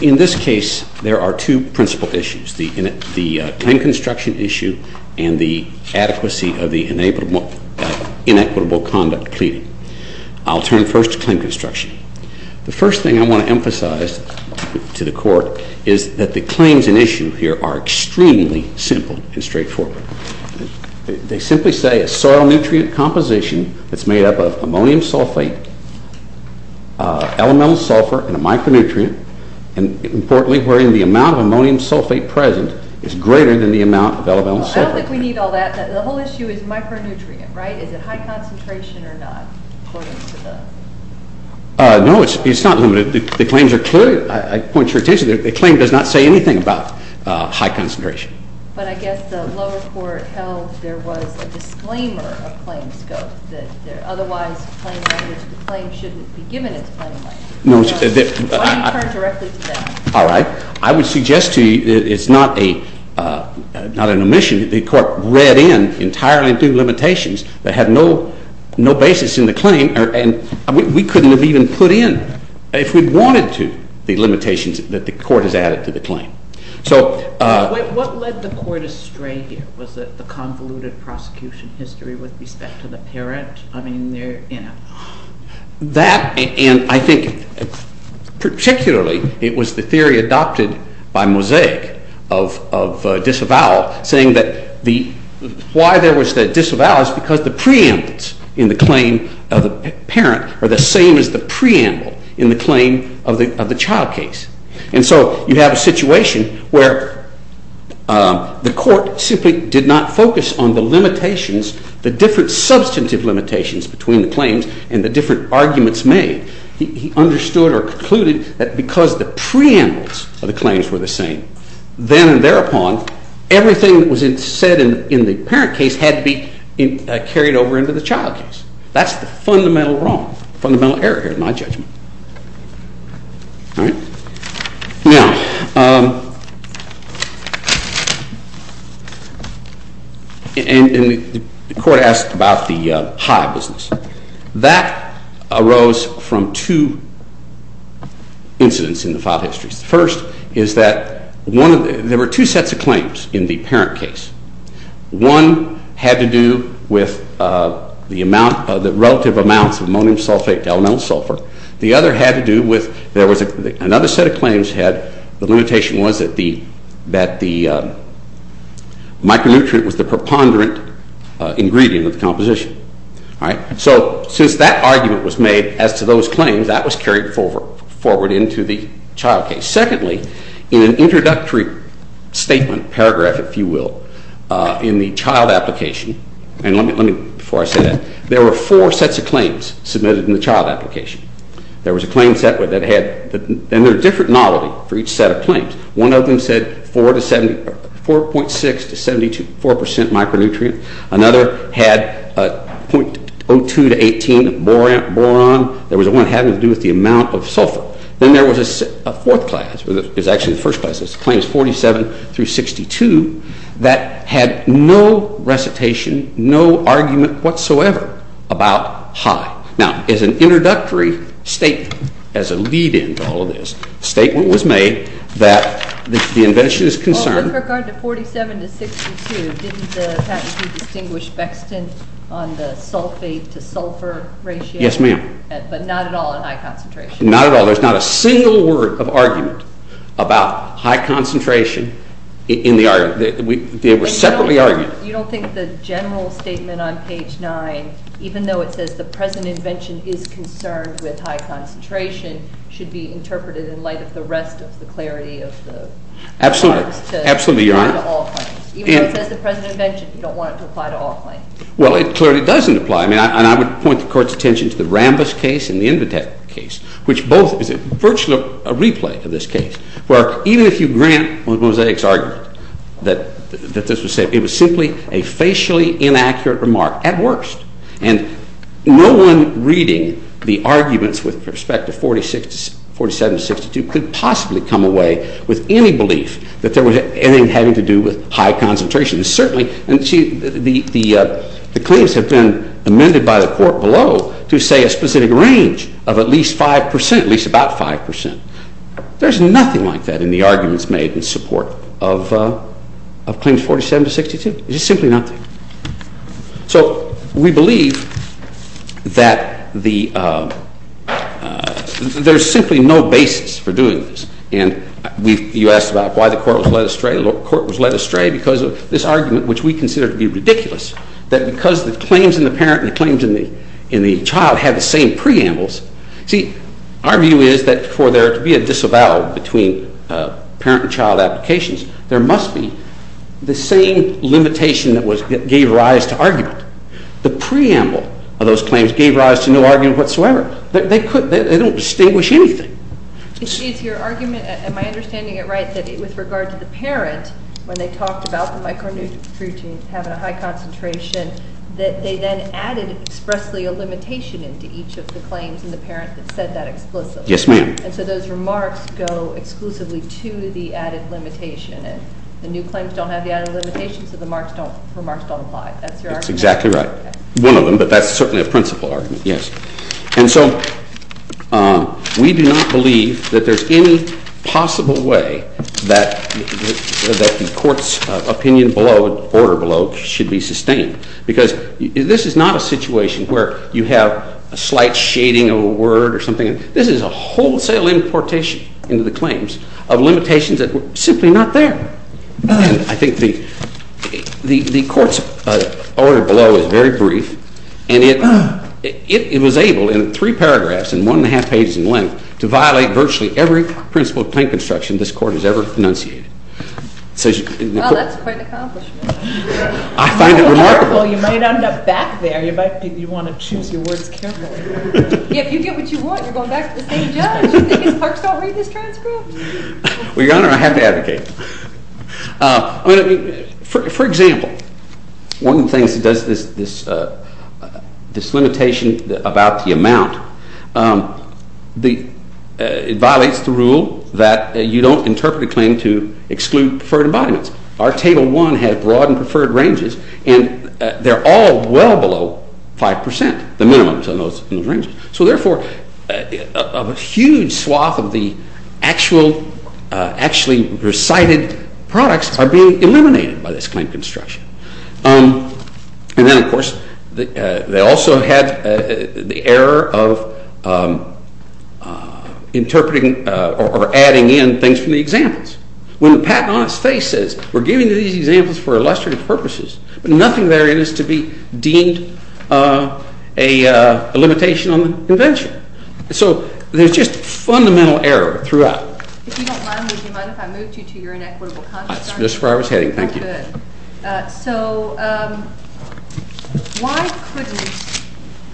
In this case, there are two principal issues, the claim construction issue and the adequacy of the inequitable conduct pleading. I'll turn first to claim construction. The first thing I want to emphasize to the Court is that the claims in issue here are extremely simple and straightforward. They simply say a soil nutrient composition that's made up of ammonium sulfate, elemental sulfur and a micronutrient, and importantly, wherein the amount of ammonium sulfate present is greater than the amount of elemental sulfur. I don't think we need all that. The whole issue is micronutrient, right? Is it high concentration or not? No, it's not limited. The claims are clear. I point your attention that the claim does not say anything about high concentration. But I guess the lower court held there was a disclaimer of claim scope, that there otherwise claim language, the claim shouldn't be given its claim language. Why do you turn directly to that? All right. I would suggest to you that it's not an omission. The Court read in entirely through limitations that had no basis in the claim, and we couldn't have even put in, if we wanted to, the limitations that the Court has added to the claim. So... What led the Court astray here? Was it the convoluted prosecution history with respect to the parent? I mean, they're, you know... That, and I think particularly it was the theory adopted by Mosaic of disavowal, saying that why there was the disavowal is because the preempts in the claim of the parent are the same as the preamble in the claim of the child case. And so you have a situation where the Court simply did not focus on the limitations, the different substantive limitations between the claims and the different arguments made. He understood or concluded that because the preambles of the claims were the same, then and thereupon, everything that was said in the parent case had to be carried over into the child case. That's the fundamental wrong, fundamental error here in my judgment. All right? Now... And the Court asked about the high business. That arose from two incidents in the file histories. First is that one of the, there were two sets of claims in the parent case. One had to do with the amount, the relative amounts of ammonium sulfate to elemental sulfur. The other had to do with, there was another set of claims had, the limitation was that the micronutrient was the preponderant ingredient of the composition. All right? So since that argument was made as to those claims, that was carried forward into the child case. Secondly, in an introductory statement, paragraph if you will, in the child application, and let me, before I say that, there were four sets of claims submitted in the child application. There was a claim set that had, and there were different novelty for each set of claims. One of them said 4.6 to 74 percent micronutrient. Another had 0.02 to 18 boron. There was one having to do with the amount of sulfur. Then there was a fourth class, it was actually the first class, claims 47 through 62 that had no recitation, no argument whatsoever about high. Now as an introductory statement, as a lead in to all of this, a statement was made that the invention is concerned. With regard to 47 to 62, didn't the patentee distinguish bextant on the sulfate to sulfur ratio? Yes, ma'am. But not at all in high concentration. Not at all. There's not a single word of argument about high concentration in the argument. They were separately argued. You don't think the general statement on page 9, even though it says the present invention is concerned with high concentration, should be interpreted in light of the rest of the clarity of the. Absolutely. Absolutely, Your Honor. Even though it says the present invention, you don't want it to apply to all claims. Well it clearly doesn't apply. I mean, I would point the Court's attention to the Rambis case and the Invitek case, which both is virtually a replay of this case, where even if you grant Mosaic's argument that this was simply a facially inaccurate remark, at worst. And no one reading the arguments with respect to 47 to 62 could possibly come away with any belief that there was anything having to do with high concentration. And certainly, the claims have been amended by the Court below to say a specific range of at least 5%, at least about 5%. There's nothing like that in the arguments made in support of claims 47 to 62. There's simply nothing. So we believe that there's simply no basis for doing this. And you asked about why the Court was led astray. Because of this argument, which we consider to be ridiculous. That because the claims in the parent and the claims in the child have the same preambles. See, our view is that for there to be a disavowal between parent and child applications, there must be the same limitation that gave rise to argument. The preamble of those claims gave rise to no argument whatsoever. They don't distinguish anything. Excuse your argument. Am I understanding it right that with regard to the parent, when they talked about the micronutrients having a high concentration, that they then added expressly a limitation into each of the claims in the parent that said that explicitly? Yes, ma'am. And so those remarks go exclusively to the added limitation. And the new claims don't have the added limitation, so the remarks don't apply. That's your argument? That's exactly right. One of them, but that's certainly a principle argument, yes. And so we do not believe that there's any possible way that the court's opinion below, order below, should be sustained. Because this is not a situation where you have a slight shading of a word or something. This is a wholesale importation into the claims of limitations that were simply not there. I think the court's order below is very brief. And it was able, in three paragraphs and one and a half pages in length, to violate virtually every principle of claim construction this court has ever enunciated. Well, that's quite an accomplishment. I find it remarkable. Well, you might end up back there. You might want to choose your words carefully. Yeah, if you get what you want, you're going back to the same judge. You think his clerks don't read his transcript? Well, Your Honor, I have to advocate. For example, one of the things that does this limitation about the amount, it violates the rule that you don't interpret a claim to exclude preferred embodiments. Our Table 1 had broad and preferred ranges, and they're all well below 5%, the minimums in those ranges. So therefore, a huge swath of the actually recited products are being eliminated by this claim construction. And then, of course, they also had the error of interpreting or adding in things from the examples. When the patent on its face says, we're giving you these examples for illustrative purposes, but nothing there is to be deemed a limitation on the invention. So there's just fundamental error throughout. If you don't mind, would you mind if I moved you to your inequitable context? That's just where I was heading. Thank you. Good. So why couldn't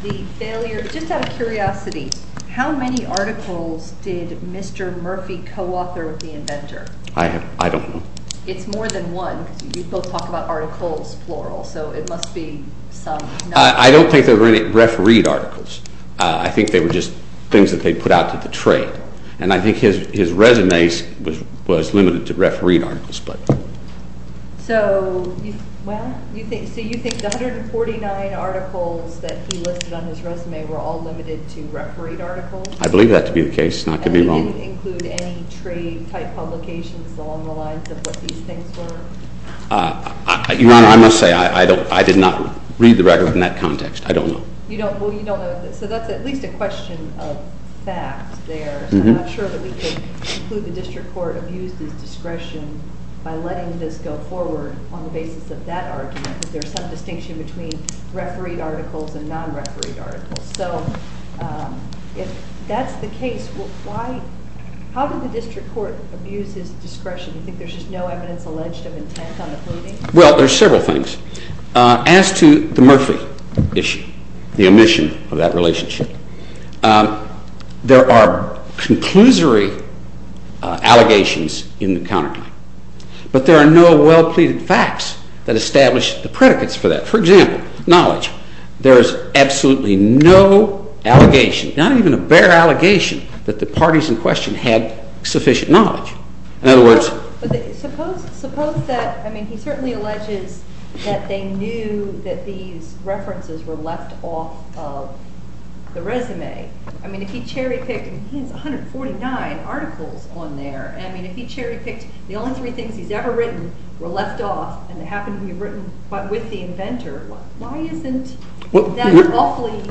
the failure, just out of curiosity, how many articles did Mr. Murphy co-author with the inventor? I don't know. It's more than one, because you both talk about articles, plural. So it must be some number. I don't think there were any refereed articles. I think they were just things that they put out to the trade. And I think his resume was limited to refereed articles. So you think the 149 articles that he listed on his resume were all limited to refereed articles? I believe that to be the case, not to be wrong. Did he include any trade-type publications along the lines of what these things were? Your Honor, I must say, I did not read the record in that context. I don't know. You don't know. So that's at least a question of fact there. So I'm not sure that we could conclude the district court abused his discretion by letting this go forward on the basis of that argument, because there's some distinction between refereed articles and non-refereed articles. So if that's the case, how did the district court abuse his discretion? You think there's just no evidence alleged of intent on the pleading? Well, there's several things. As to the Murphy issue, the omission of that relationship, there are conclusory allegations in the counterclaim. But there are no well-pleaded facts that establish the predicates for that. For example, knowledge. There is absolutely no allegation, not even a bare allegation, that the parties in question had sufficient knowledge. In other words, suppose that, I mean, he certainly alleges that they knew that these references were left off of the resume. I mean, if he cherry-picked, and he has 149 articles on there. I mean, if he cherry-picked the only three things he's ever written were left off, and they happen to be written with the inventor, why isn't that awfully...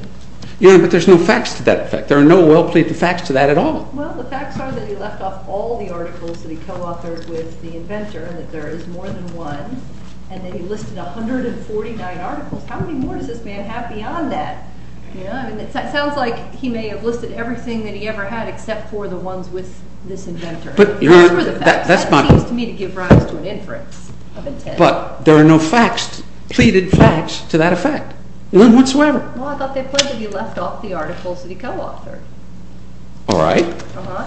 Yeah, but there's no facts to that effect. There are no well-pleaded facts to that at all. Well, the facts are that he left off all the articles that he co-authored with the inventor, and that there is more than one, and that he listed 149 articles. How many more does this man have beyond that? You know, I mean, it sounds like he may have listed everything that he ever had, except for the ones with this inventor. But, you know, that seems to me to give rise to an inference of intent. But there are no facts, pleaded facts, to that effect, none whatsoever. Well, I thought they pledged that he left off the articles that he co-authored. All right.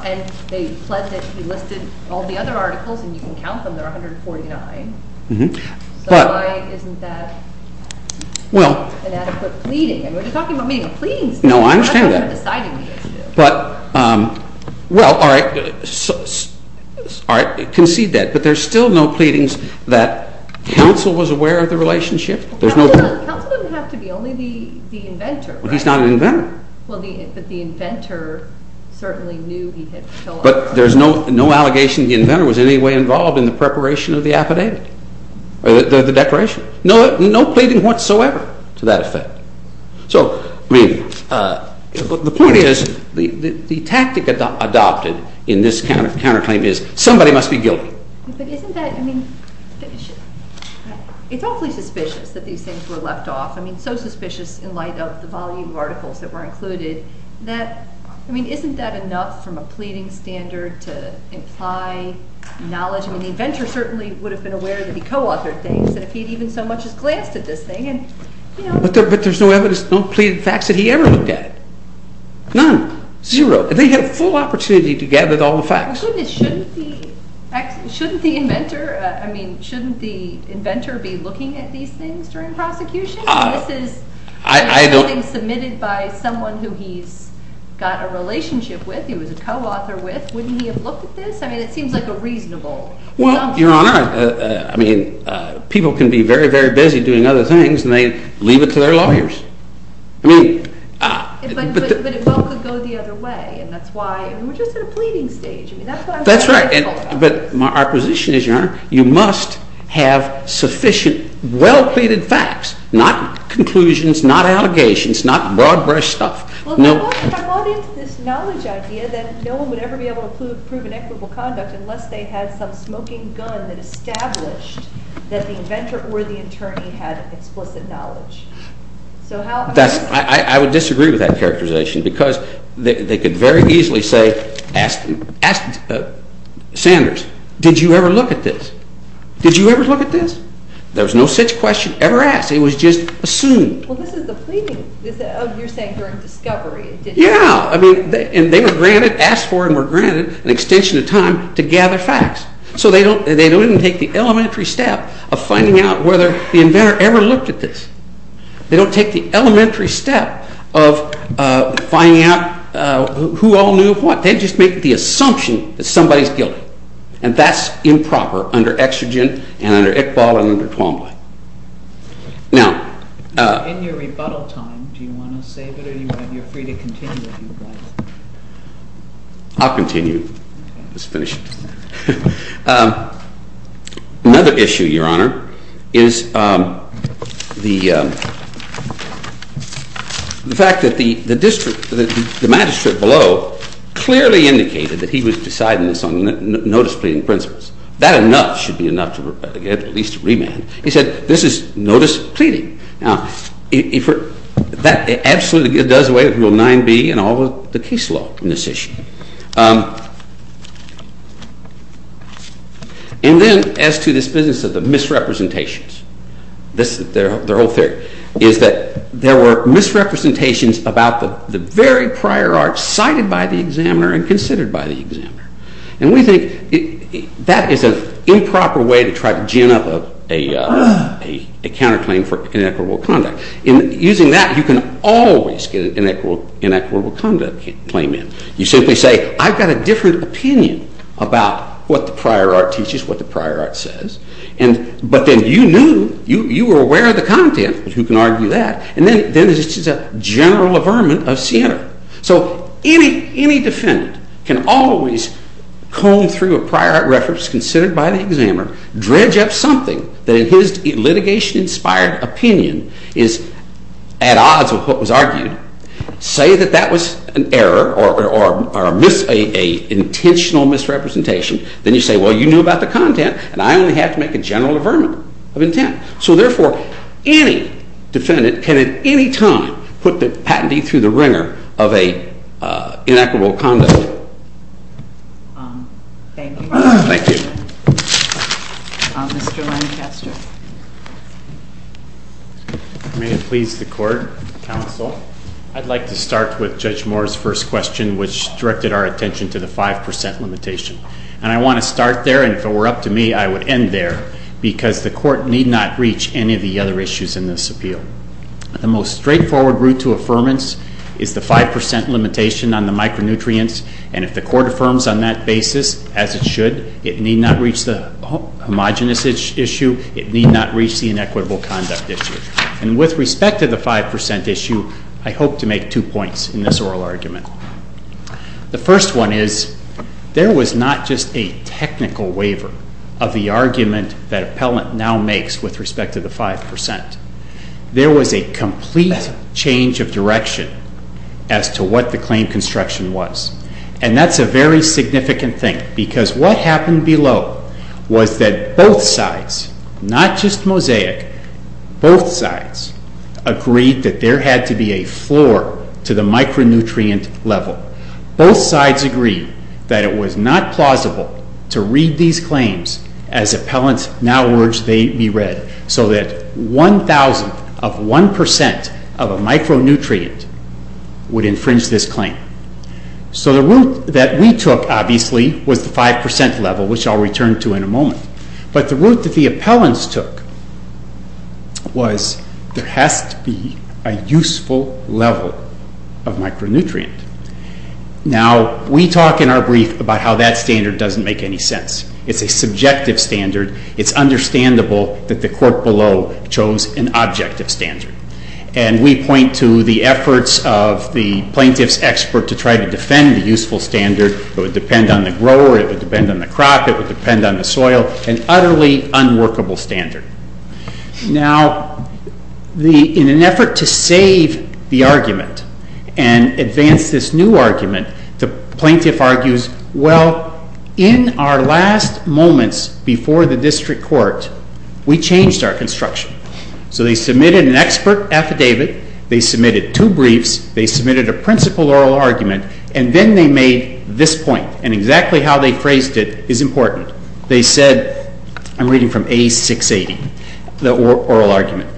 And they pledged that he listed all the other articles, and you can count them, there are 149. So why isn't that an adequate pleading? I mean, we're just talking about meeting a pleading statute. No, I understand that. But, well, all right, concede that. But there's still no pleadings that counsel was aware of the relationship. Counsel doesn't have to be, only the inventor, right? Well, he's not an inventor. Well, but the inventor certainly knew he had co-authored. But there's no allegation the inventor was in any way involved in the preparation of the affidavit, or the declaration. No pleading whatsoever to that effect. So, I mean, the point is, the tactic adopted in this counterclaim is somebody must be guilty. But isn't that, I mean, it's awfully suspicious that these things were left off. I mean, so suspicious in light of the volume of articles that were included, that, I mean, isn't that enough from a pleading standard to imply knowledge? I mean, the inventor certainly would have been aware that he co-authored things, that if he'd even so much as glanced at this thing, and, you know. But there's no evidence, no pleaded facts that he ever looked at. None. Zero. They had a full opportunity to gather all the facts. My goodness, shouldn't the inventor, I mean, shouldn't the inventor be looking at these things during prosecution? This is something submitted by someone who he's got a relationship with, who he was a co-author with. Wouldn't he have looked at this? I mean, it seems like a reasonable assumption. Well, Your Honor, I mean, people can be very, very busy doing other things, and they leave it to their lawyers. I mean, but the. But it well could go the other way. And that's why, I mean, we're just at a pleading stage. I mean, that's what I'm saying. That's right. And but our position is, Your Honor, you must have sufficient well-pleaded facts, not conclusions, not allegations, not broad-brush stuff. Well, if I'm all in to this knowledge idea that no one would ever be able to prove inequitable conduct unless they had some smoking gun that established that the inventor or the attorney had explicit knowledge. So how am I going to. I would disagree with that characterization, because they could very easily say, ask Sanders, did you ever look at this? Did you ever look at this? There was no such question ever asked. It was just assumed. Well, this is the pleading. This is, oh, you're saying during discovery. Yeah. I mean, and they were granted, asked for and were granted an extension of time to gather facts. So they don't even take the elementary step of finding out whether the inventor ever looked at this. They don't take the elementary step of finding out who all knew what. They just make the assumption that somebody's guilty. And that's improper under Extrogen, and under Iqbal, and under Twombly. Now. In your rebuttal time, do you want to save it, or you're free to continue if you'd like? I'll continue. Let's finish it. Another issue, Your Honor, is the fact that the magistrate below clearly indicated that he was deciding this on notice pleading principles. That enough should be enough to get at least a remand. He said, this is notice pleading. Now, that absolutely does away with Rule 9b and all of the case law in this issue. And then, as to this business of the misrepresentations, this is their whole theory, is that there were misrepresentations about the very prior art cited by the examiner and considered by the examiner. And we think that is an improper way to try to gin up a counterclaim for inequitable conduct. In using that, you can always get an inequitable conduct claim in. You simply say, I've got a different opinion about what the prior art teaches, what the prior art says. But then, you knew, you were aware of the content. Who can argue that? And then, it's just a general affirmant of Siena. So any defendant can always comb through a prior art reference considered by the examiner, dredge up something that in his litigation-inspired opinion is at odds with what was argued, say that that was an error or an intentional misrepresentation. Then, you say, well, you knew about the content, and I only had to make a general affirmant of intent. So therefore, any defendant can, at any time, put the patentee through the wringer of an inequitable conduct. Thank you. Thank you. Mr. Lancaster. May it please the court, counsel, I'd like to start with Judge Moore's first question, which directed our attention to the 5% limitation. And I want to start there, and if it were up to me, I would end there, because the court need not reach any of the other issues in this appeal. The most straightforward route to affirmance is the 5% limitation on the micronutrients. And if the court affirms on that basis, as it should, it need not reach the homogenous issue. It need not reach the inequitable conduct issue. And with respect to the 5% issue, I hope to make two points in this oral argument. The first one is, there was not just a technical waiver of the argument that appellant now makes with respect to the 5%. There was a complete change of direction as to what the claim construction was. And that's a very significant thing, because what happened below was that both sides, not just sides, agreed that there had to be a floor to the micronutrient level. Both sides agreed that it was not plausible to read these claims as appellants now urged they be read, so that 1,000th of 1% of a micronutrient would infringe this claim. So the route that we took, obviously, was the 5% level, which I'll return to in a moment. But the route that the appellants took was there has to be a useful level of micronutrient. Now, we talk in our brief about how that standard doesn't make any sense. It's a subjective standard. It's understandable that the court below chose an objective standard. And we point to the efforts of the plaintiff's expert to try to defend the useful standard. It would depend on the grower. It would depend on the crop. It would depend on the soil, an utterly unworkable standard. Now, in an effort to save the argument and advance this new argument, the plaintiff argues, well, in our last moments before the district court, we changed our construction. So they submitted an expert affidavit. They submitted two briefs. They submitted a principal oral argument. And then they made this point. And exactly how they phrased it is important. They said, I'm reading from A680, the oral argument.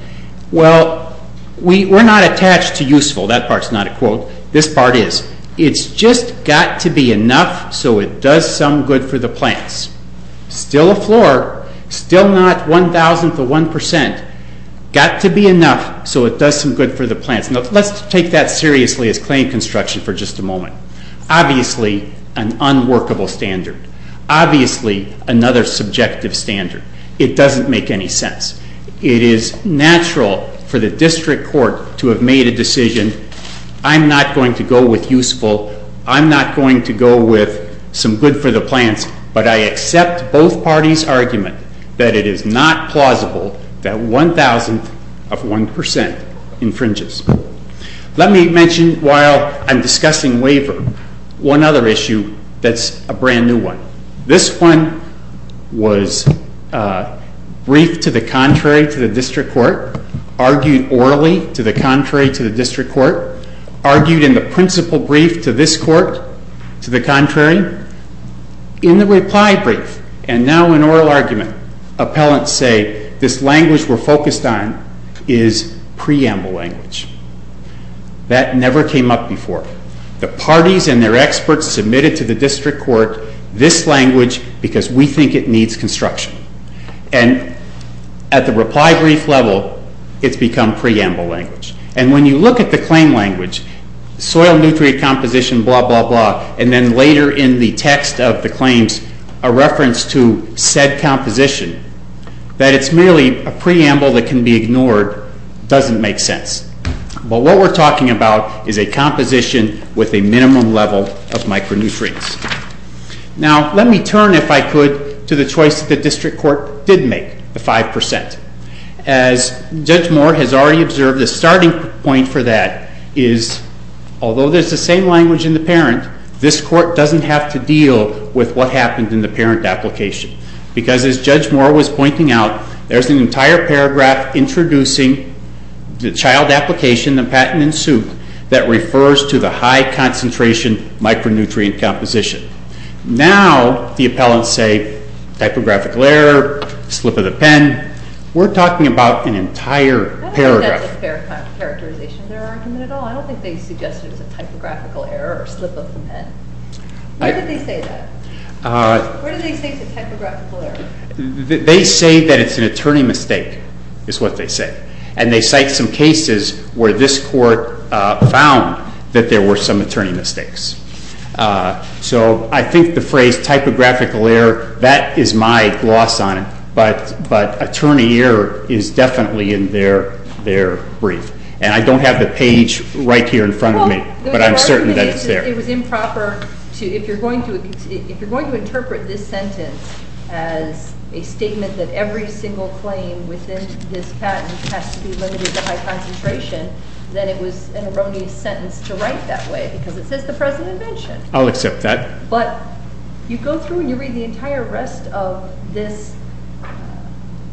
Well, we're not attached to useful. That part's not a quote. This part is. It's just got to be enough so it does some good for the plants. Still a floor. Still not 1,000th of 1%. Got to be enough so it does some good for the plants. Now, let's take that seriously as claim construction for just a moment. Obviously, an unworkable standard. Obviously, another subjective standard. It doesn't make any sense. It is natural for the district court to have made a decision, I'm not going to go with useful. I'm not going to go with some good for the plants. But I accept both parties' argument that it is not plausible that 1,000th of 1% infringes. Let me mention, while I'm discussing waiver, one other issue that's a brand new one. This one was briefed to the contrary to the district court, argued orally to the contrary to the district court, argued in the principal brief to this court to the contrary. In the reply brief, and now in oral argument, appellants say this language we're focused on is preamble language. That never came up before. The parties and their experts submitted to the district court this language because we think it needs construction. And at the reply brief level, it's become preamble language. And when you look at the claim language, soil nutrient composition, blah, blah, blah, and then later in the text of the claims, a reference to said composition, that it's merely a preamble that can be ignored, doesn't make sense. But what we're talking about is a composition with a minimum level of micronutrients. Now, let me turn, if I could, to the choice the district court did make, the 5%. As Judge Moore has already observed, the starting point for that is, although there's the same language in the parent, this court doesn't have to deal with what happened in the parent application. Because as Judge Moore was pointing out, there's an entire paragraph introducing the child application, the patent in suit, that refers to the high concentration micronutrient composition. Now, the appellants say, typographical error, slip of the pen. We're talking about an entire paragraph. I don't think that's a fair characterization of their argument at all. I don't think they suggested it was a typographical error or slip of the pen. Why did they say that? What did they say is a typographical error? They say that it's an attorney mistake, is what they say. And they cite some cases where this court found that there were some attorney mistakes. So I think the phrase typographical error, that is my gloss on it. But attorney error is definitely in their brief. And I don't have the page right here in front of me. But I'm certain that it's there. It was improper to, if you're going to interpret this sentence as a statement that every single claim within this patent has to be limited to high concentration, then it was an erroneous sentence to write that way. Because it says the president mentioned. I'll accept that. But you go through and you read the entire rest of this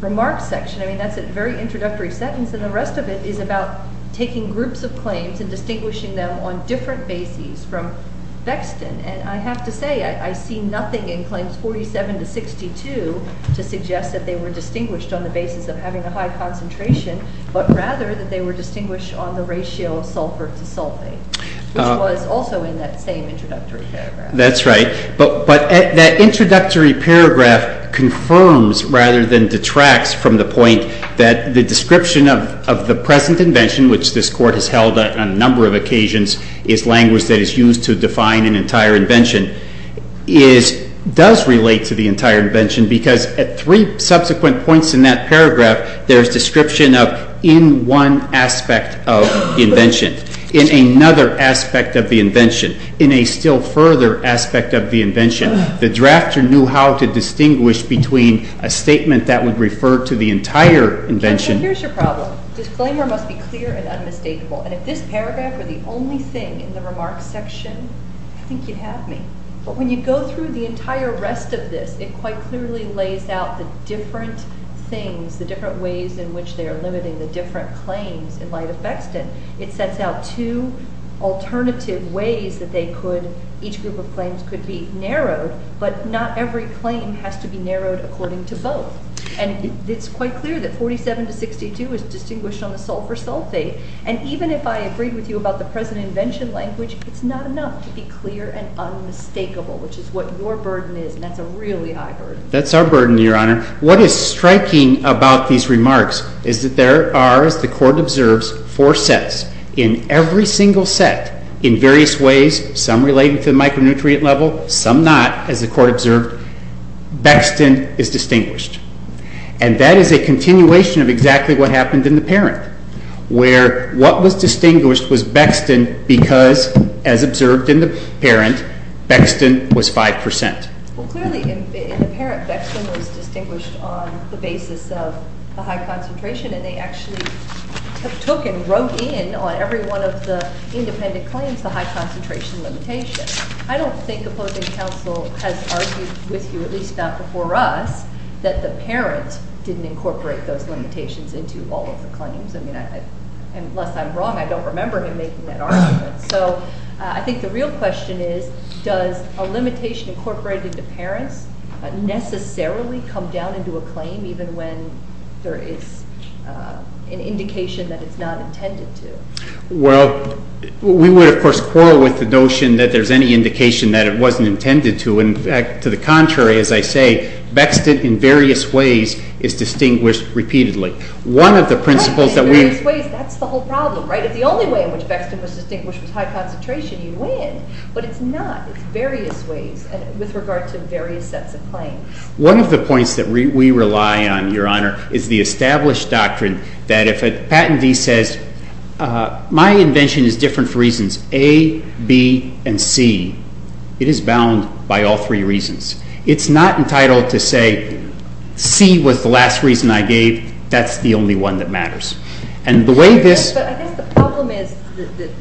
remark section. I mean, that's a very introductory sentence. And the rest of it is about taking groups of claims and distinguishing them on different bases from Vexton. And I have to say, I see nothing in claims 47 to 62 to suggest that they were distinguished on the basis of having a high concentration, but rather that they were distinguished on the ratio of sulfur to sulfate, which was also in that same introductory paragraph. That's right. But that introductory paragraph confirms rather than detracts from the point that the description of the present invention, which this court has held on a number of occasions, is a language that is used to define an entire invention, does relate to the entire invention. Because at three subsequent points in that paragraph, there's description of in one aspect of the invention, in another aspect of the invention, in a still further aspect of the invention. The drafter knew how to distinguish between a statement that would refer to the entire invention. Here's your problem. Disclaimer must be clear and unmistakable. And if this paragraph were the only thing in the remarks section, I think you'd have me. But when you go through the entire rest of this, it quite clearly lays out the different things, the different ways in which they are limiting the different claims in light of Bexton. It sets out two alternative ways that each group of claims could be narrowed. But not every claim has to be narrowed according to both. And it's quite clear that 47 to 62 is distinguished on the sulfur sulfate. And even if I agreed with you about the present invention language, it's not enough to be clear and unmistakable, which is what your burden is. And that's a really high burden. That's our burden, Your Honor. What is striking about these remarks is that there are, as the court observes, four sets in every single set in various ways, some related to the micronutrient level, some not, as the court observed. Bexton is distinguished. And that is a continuation of exactly what was distinguished was Bexton because, as observed in the parent, Bexton was 5%. Well, clearly, in the parent, Bexton was distinguished on the basis of a high concentration. And they actually took and wrote in on every one of the independent claims the high concentration limitation. I don't think opposing counsel has argued with you, at least not before us, that the parent didn't incorporate those limitations into all of the claims. Unless I'm wrong, I don't remember him making that argument. So I think the real question is, does a limitation incorporated to parents necessarily come down into a claim even when there is an indication that it's not intended to? Well, we would, of course, quarrel with the notion that there's any indication that it wasn't intended to. In fact, to the contrary, as I say, Bexton, in various ways, is distinguished repeatedly. One of the principles that we've In various ways, that's the whole problem, right? If the only way in which Bexton was distinguished was high concentration, you'd win. But it's not. It's various ways with regard to various sets of claims. One of the points that we rely on, Your Honor, is the established doctrine that if a patentee says, my invention is different for reasons A, B, and C, it is bound by all three reasons. It's not entitled to say, C was the last reason I gave. That's the only one that matters. And the way this But I guess the problem is,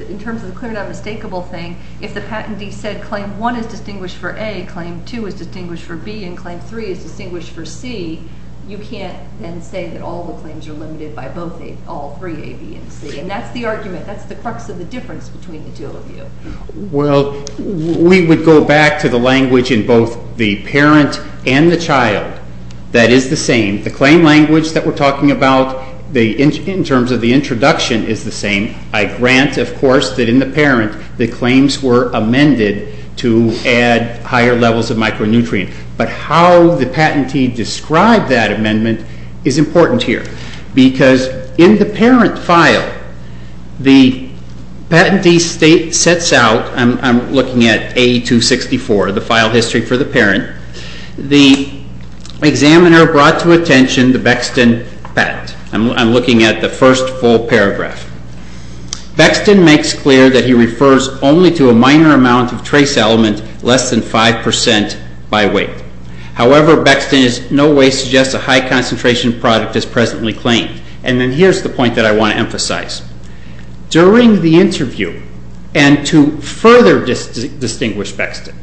in terms of the clear and unmistakable thing, if the patentee said claim one is distinguished for A, claim two is distinguished for B, and claim three is distinguished for C, you can't then say that all the claims are limited by all three, A, B, and C. And that's the argument. That's the crux of the difference between the two of you. Well, we would go back to the language in both the parent and the child that is the same. The claim language that we're talking about, in terms of the introduction, is the same. I grant, of course, that in the parent, the claims were amended to add higher levels of micronutrient. But how the patentee described that amendment is important here. Because in the parent file, the patentee history for the parent. The examiner brought to attention the Bexton patent. I'm looking at the first full paragraph. Bexton makes clear that he refers only to a minor amount of trace element, less than 5% by weight. However, Bexton in no way suggests a high concentration product is presently claimed. And then here's the point that I want to emphasize. During the interview, and to further distinguish Bexton,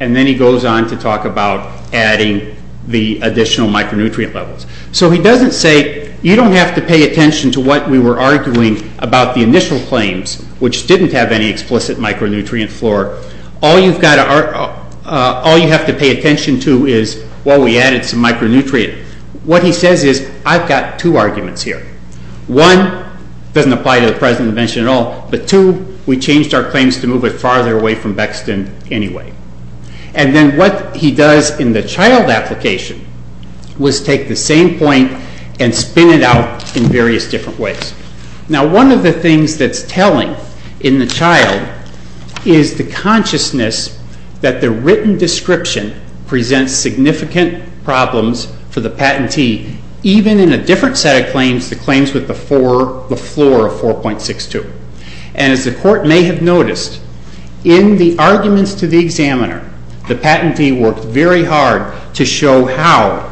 and then he goes on to talk about adding the additional micronutrient levels. So he doesn't say, you don't have to pay attention to what we were arguing about the initial claims, which didn't have any explicit micronutrient floor. All you have to pay attention to is, well, we added some micronutrient. What he says is, I've got two arguments here. One, doesn't apply to the present invention at all. But two, we changed our claims to move it farther away from Bexton anyway. And then what he does in the child application was take the same point and spin it out in various different ways. Now, one of the things that's telling in the child is the consciousness that the written description presents significant problems for the patentee, even in a different set of claims, the claims with the floor of 4.62. And as the court may have noticed, in the arguments to the examiner, the patentee worked very hard to show how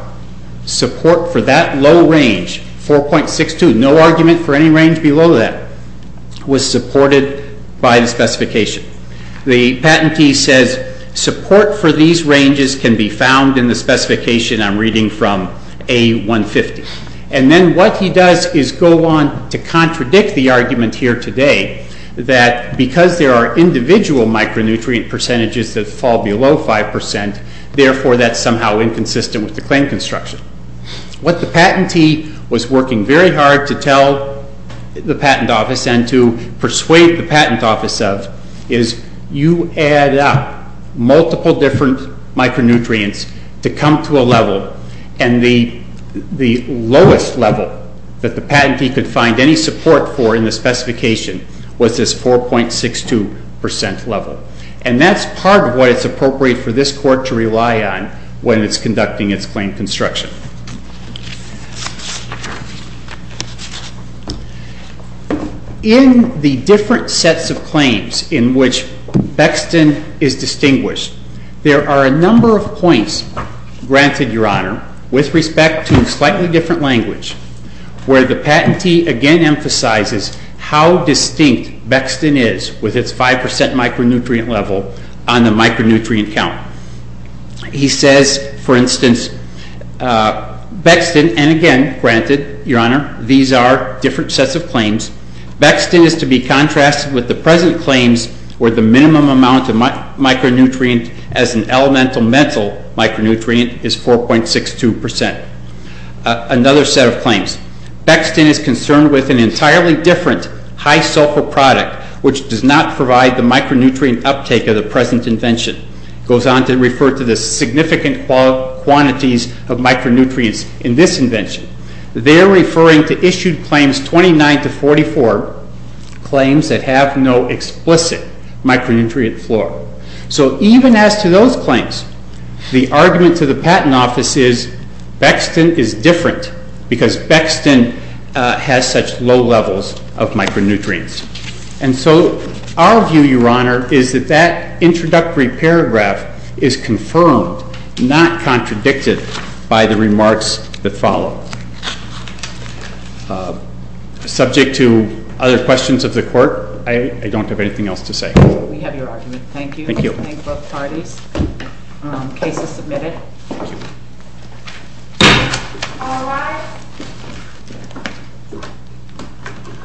support for that low range, 4.62, no argument for any range below that, was supported by the specification. The patentee says, support for these ranges can be found in the specification I'm reading from A150. And then what he does is go on to contradict the argument here that because there are individual micronutrient percentages that fall below 5%, therefore, that's somehow inconsistent with the claim construction. What the patentee was working very hard to tell the patent office and to persuade the patent office of is you add up multiple different micronutrients to come to a level, and the lowest level that the patentee could find any support for in the specification was this 4.62% level. And that's part of what is appropriate for this court to rely on when it's conducting its claim construction. In the different sets of claims in which Bexton is distinguished, there are a number of points granted, Your Honor, with respect to slightly different language, where the patentee again emphasizes how distinct Bexton is with its 5% micronutrient level on the micronutrient count. He says, for instance, Bexton, and again, granted, Your Honor, these are different sets of claims. Bexton is to be contrasted with the present claims where the minimum amount of micronutrient as an elemental mental micronutrient is 4.62%. Another set of claims. Bexton is concerned with an entirely different high sulfur product, which does not provide the micronutrient uptake of the present invention. Goes on to refer to the significant quantities of micronutrients in this invention. They're referring to issued claims 29 to 44, claims that have no explicit micronutrient floor. So even as to those claims, the argument to the patent office is Bexton is different, because Bexton has such low levels of micronutrients. And so our view, Your Honor, is that that introductory paragraph is confirmed, not contradicted, by the remarks that follow. Subject to other questions of the court, I don't have anything else to say. We have your argument. Thank you. Thank you. Thank both parties. Case is submitted. Thank you. All rise.